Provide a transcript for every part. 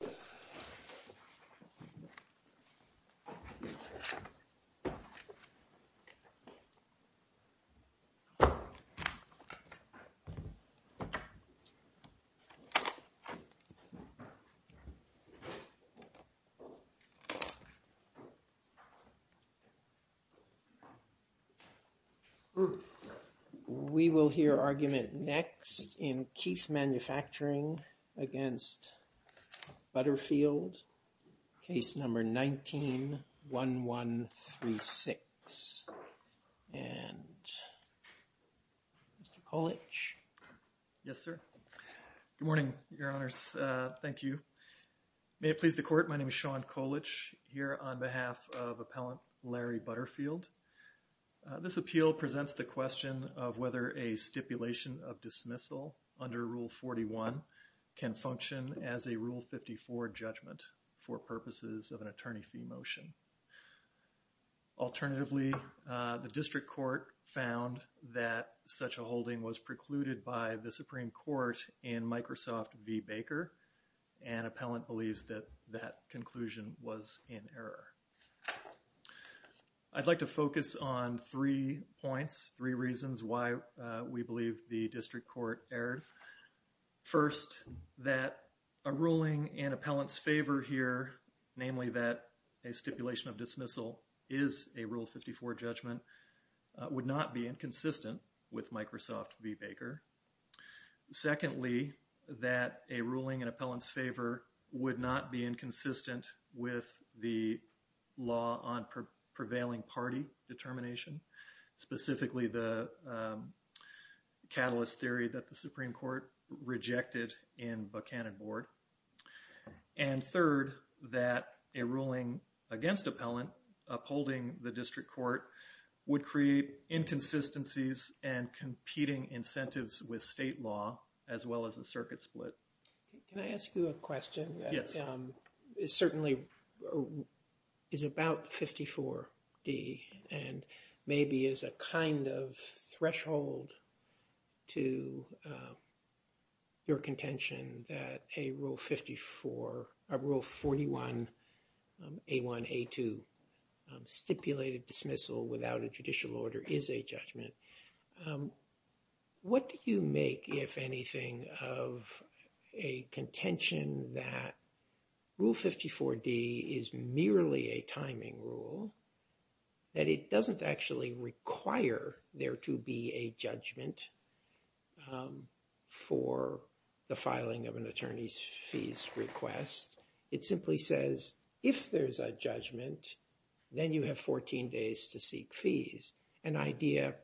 We appeal presents the question of whether a stipulation of dismissal under Rule 41 can function as a Rule 54 judgment for purposes of an attorney fee motion. Alternatively, the District Court found that such a holding was precluded by the Supreme Court in Microsoft v. Baker, and appellant believes that that conclusion was in error. I'd like to focus on three points, three reasons why we believe the District Court erred. First, that a ruling in appellant's favor here, namely that a stipulation of dismissal is a Rule 54 judgment, would not be inconsistent with Microsoft v. Baker. Secondly, that a ruling in appellant's favor would not be inconsistent with the law on prevailing party determination, specifically the catalyst theory that the Supreme Court rejected in Buchanan v. Board. And third, that a ruling against appellant upholding the District Court would create inconsistencies and competing incentives with state law, as well as a circuit split. Can I ask you a question? It certainly is about 54D, and maybe is a kind of threshold to your contention that a Rule 51, A1, A2 stipulated dismissal without a judicial order is a judgment. What do you make, if anything, of a contention that Rule 54D is merely a timing rule, that it doesn't actually require there to be a judgment for the filing of an attorney's request? It simply says, if there's a judgment, then you have 14 days to seek fees. An idea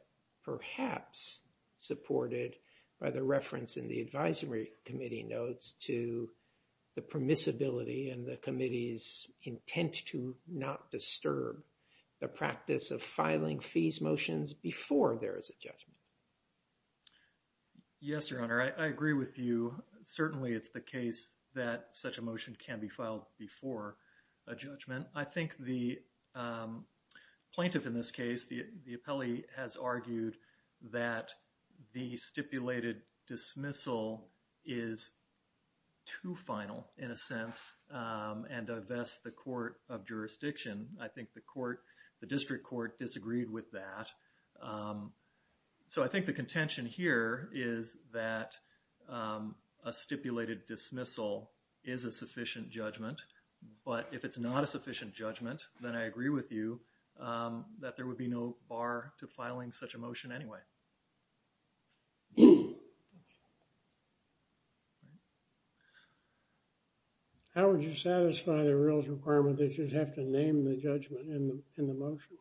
perhaps supported by the reference in the advisory committee notes to the permissibility and the committee's intent to not disturb the practice of filing fees motions before there is a judgment. Yes, Your Honor, I agree with you. Certainly, it's the case that such a motion can be filed before a judgment. I think the plaintiff in this case, the appellee, has argued that the stipulated dismissal is too final, in a sense, and thus the Court of Jurisdiction, I think the court, the district court, disagreed with that. So I think the contention here is that a stipulated dismissal is a sufficient judgment, but if it's not a sufficient judgment, then I agree with you that there would be no bar to filing such a motion anyway. How would you satisfy the rules requirement that you'd have to name the judgment in the motion?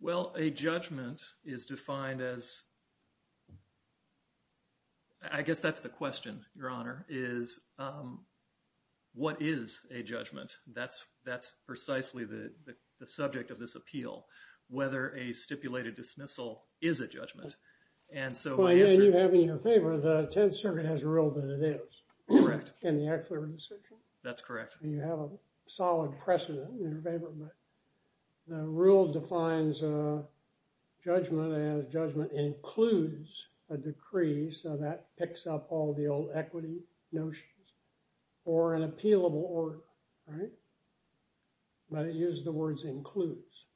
Well, a judgment is defined as, I guess that's the question, Your Honor, is what is a judgment? That's precisely the question. A judgment is a judgment, but a stipulated dismissal is a judgment, and so... Well, you have in your favor, the Tenth Circuit has a rule that it is. Correct. In the Act of the Redemption. That's correct. And you have a solid precedent in your favor, but the rule defines a judgment as judgment includes a decree, so that picks up all the old equity notions, or an appealable order, right? But it uses the words includes.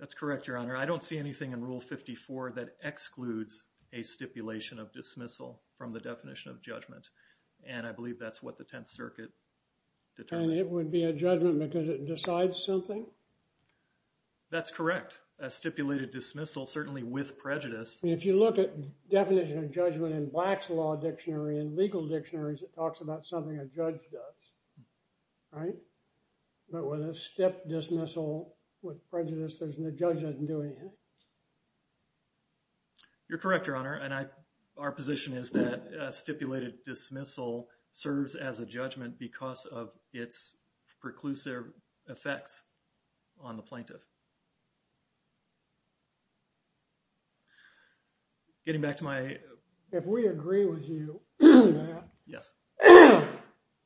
That's correct, Your Honor. I don't see anything in Rule 54 that excludes a stipulation of dismissal from the definition of judgment, and I believe that's what the Tenth Circuit determined. And it would be a judgment because it decides something? That's correct. A stipulated dismissal, certainly with prejudice... If you look at definition of judgment in Black's Law Dictionary and legal dictionaries, it talks about something a judge does, right? But with a stip dismissal with prejudice, the judge doesn't do anything. You're correct, Your Honor, and our position is that a stipulated dismissal serves as a judgment because of its preclusive effects on the plaintiff. Getting back to my... If we agree with you on that... Yes.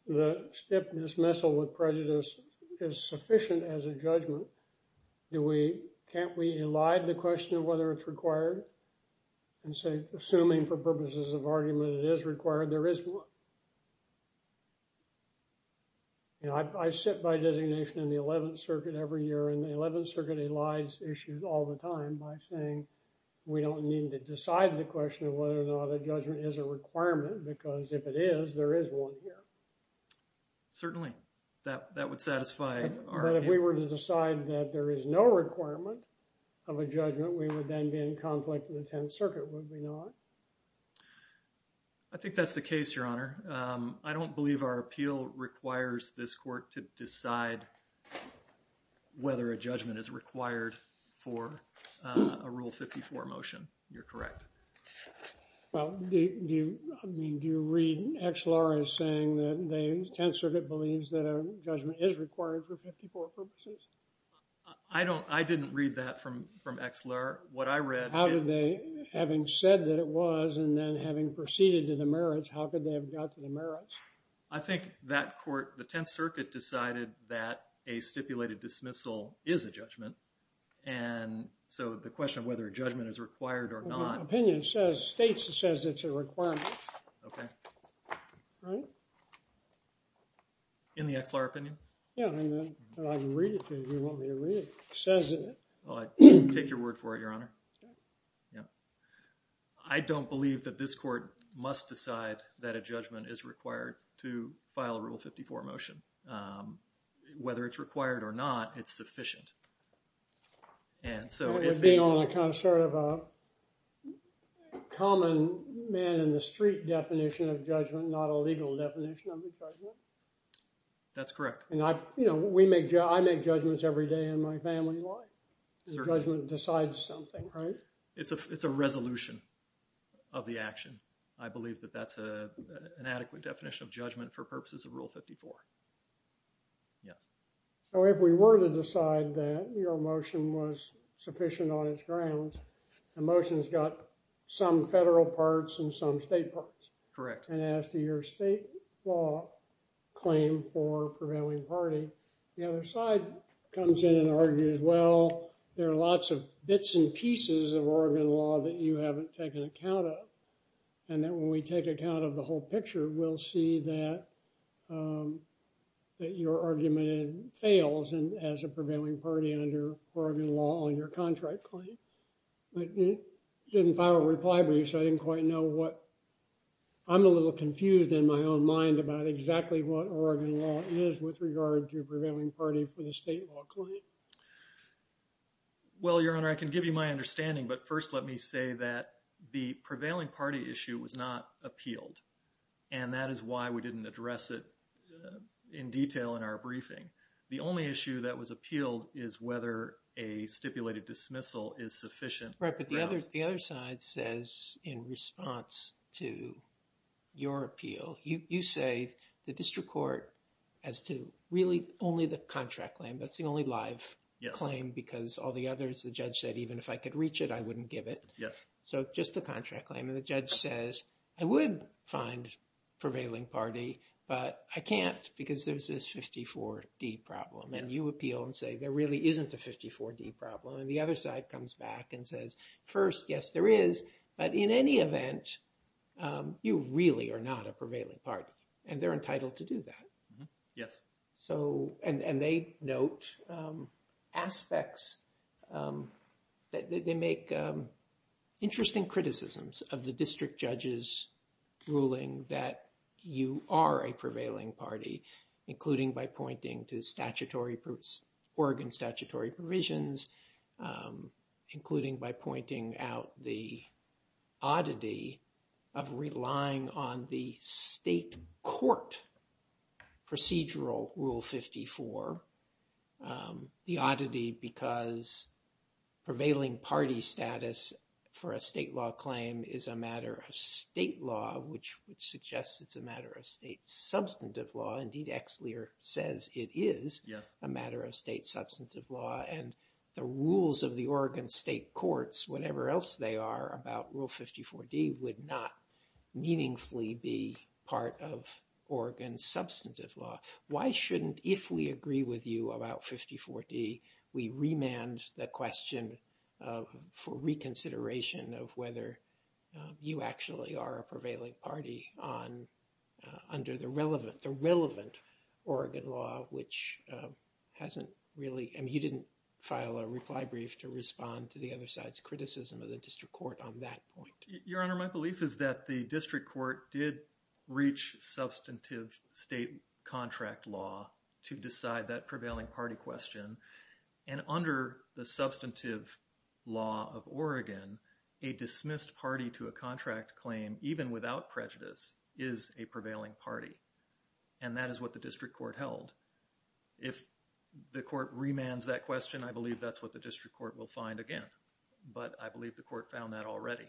The stip dismissal with prejudice is sufficient as a judgment. Do we... Can't we elide the question of whether it's required? And say, assuming for purposes of argument it is required, there is one. You know, I sit by designation in the Eleventh Circuit every year, and the Eleventh Circuit elides issues all the time by saying, we don't need to decide the question of whether or not a judgment is a requirement, because if it is, there is one here. Certainly, that would satisfy our... But if we were to decide that there is no requirement of a judgment, we would then be in conflict with the Tenth Circuit, would we not? I think that's the case, Your Honor. I don't believe our appeal requires this court to decide whether a judgment is required for a Rule 54 motion. You're correct. Well, do you, I mean, do you read XLR as saying that the Tenth Circuit believes that a judgment is required for 54 purposes? I don't, I didn't read that from, from XLR. What I read... How did they, having said that it was, and then having proceeded to the merits, how could they have got to the merits? I think that court, the Tenth Circuit decided that a stipulated dismissal is a judgment. And so the question of whether a judgment is required or not... Opinion says, states it says it's a requirement. Okay. Right? In the XLR opinion? Yeah, I mean, I can read it to you if you want me to read it. It says in it. Well, I take your word for it, Your Honor. Yeah. I don't believe that this court must decide that a judgment is required to file a Rule 54 motion. Whether it's required or not, it's sufficient. And so if... Being on a kind of, sort of a common man in the street definition of judgment, not a legal definition of a judgment. That's correct. And I, you know, we make, I make judgments every day in my family life. The judgment decides something, right? It's a, it's a resolution of the action. I believe that that's a, an adequate definition of judgment for purposes of Rule 54. Yes. So if we were to decide that your motion was sufficient on its grounds, the motion's got some federal parts and some state parts. Correct. And as to your state law claim for prevailing party, the other side comes in and argues, well, there are lots of bits and pieces of Oregon law that you haven't taken account of. And then when we take account of the whole picture, we'll see that, um, that your argument fails as a prevailing party under Oregon law on your contract claim. But it didn't file a reply brief, so I didn't quite know what... I'm a little confused in my own mind about exactly what Oregon law is with regard to prevailing party for the state law claim. Well, Your Honor, I can give you my understanding, but first let me say that the prevailing party issue was not appealed. And that is why we didn't address it in detail in our briefing. The only issue that was appealed is whether a stipulated dismissal is sufficient. Right, but the other side says in response to your appeal, you say the district court has to really only the contract claim. That's the only live claim because all the others, the judge said, even if I could reach it, I wouldn't give it. Yes. So just the contract claim. The judge says, I would find prevailing party, but I can't because there's this 54D problem. And you appeal and say, there really isn't a 54D problem. And the other side comes back and says, first, yes, there is. But in any event, you really are not a prevailing party and they're entitled to do that. Yes. And they note aspects that they make interesting criticisms of the district judge's ruling that you are a prevailing party, including by pointing to Oregon statutory provisions, including by pointing out the oddity of relying on the state court procedural rule 54. The oddity because prevailing party status for a state law claim is a matter of state law, which would suggest it's a matter of state substantive law. Indeed, Exlear says it is a matter of state substantive law. And the rules of the Oregon state courts, whatever else they are about rule 54D, would not meaningfully be part of Oregon substantive law. Why shouldn't, if we agree with you about 54D, we remand the question for reconsideration of whether you actually are a prevailing party under the relevant Oregon law, which hasn't really, you didn't file a reply brief to respond to the other side's criticism of the district court on that point. Your Honor, my belief is that the district court did reach substantive state contract law to decide that prevailing party question. And under the substantive law of Oregon, a dismissed party to a contract claim, even without prejudice, is a prevailing party. And that is what the district court held. If the court remands that question, I believe that's what the district court will find again. But I believe the court found that already.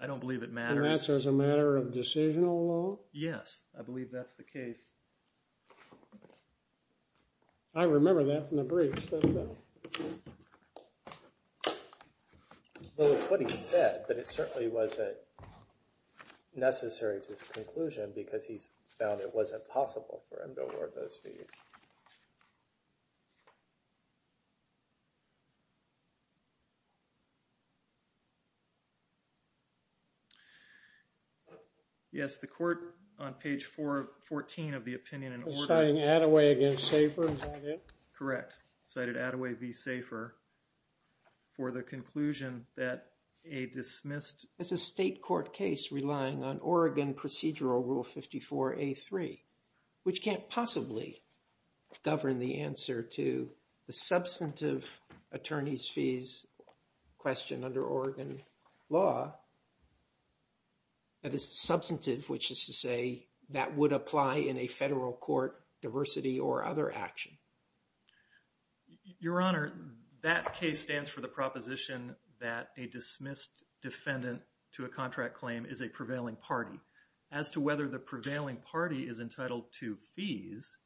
I don't believe it matters. And that's as a matter of decisional law? Yes, I believe that's the case. I remember that from the briefs. Well, it's what he said, but it certainly wasn't necessary to his conclusion because he's found it wasn't possible for him to award those fees. Yes, the court on page 414 of the opinion in order. Citing Attaway against Safer, is that it? Correct. Cited Attaway v. Safer for the conclusion that a dismissed. It's a state court case relying on Oregon procedural rule 54A3, which can't possibly govern the answer to the substantive attorney's fees question under Oregon law. That is substantive, which is to say that would apply in a federal court diversity or other action. Your Honor, that case stands for the proposition that a dismissed defendant to a contract claim is a prevailing party. As to whether the prevailing party is entitled to fees,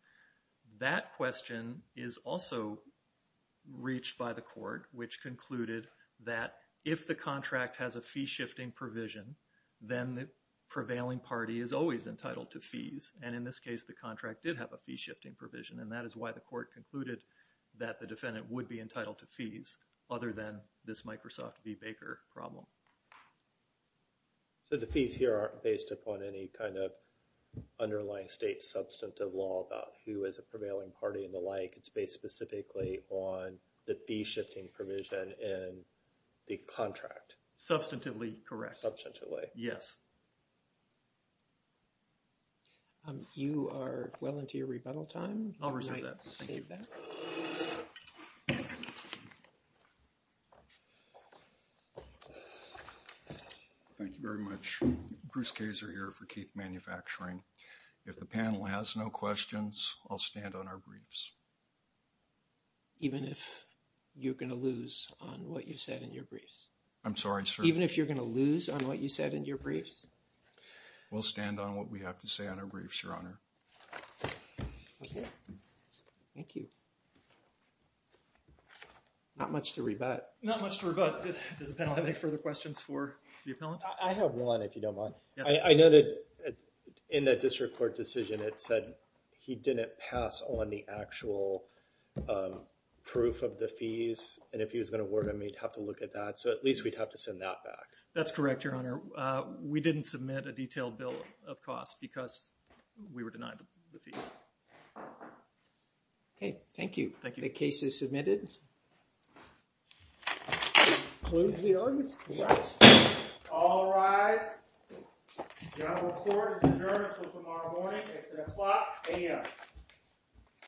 that question is also reached by the court, which concluded that if the contract has a fee shifting provision, then the prevailing party is always entitled to fees. And in this case, the contract did have a fee shifting provision. And that is why the court concluded that the defendant would be entitled to fees other than this Microsoft v. Baker problem. So the fees here aren't based upon any kind of underlying state substantive law about who is a prevailing party and the like. It's based specifically on the fee shifting provision in the contract. Substantively correct. Substantively. Yes. You are well into your rebuttal time. I'll reserve that. Thank you very much. Bruce Kazer here for Keith Manufacturing. If the panel has no questions, I'll stand on our briefs. Even if you're going to lose on what you said in your briefs? I'm sorry, sir. Even if you're going to lose on what you said in your briefs? We'll stand on what we have to say on our briefs, Your Honor. Thank you. Not much to rebut. Not much to rebut. Does the panel have any further questions for the appellant? I have one, if you don't mind. I noted in the district court decision, it said he didn't pass on the actual proof of the fees. And if he was going to work on me, he'd have to look at that. So at least we'd have to send that back. That's correct, Your Honor. We didn't submit a detailed bill of costs because we were denied the fees. Okay, thank you. Thank you. The case is submitted. Closed the argument. All rise. Your Honorable Court is adjourned until tomorrow morning at 3 o'clock a.m.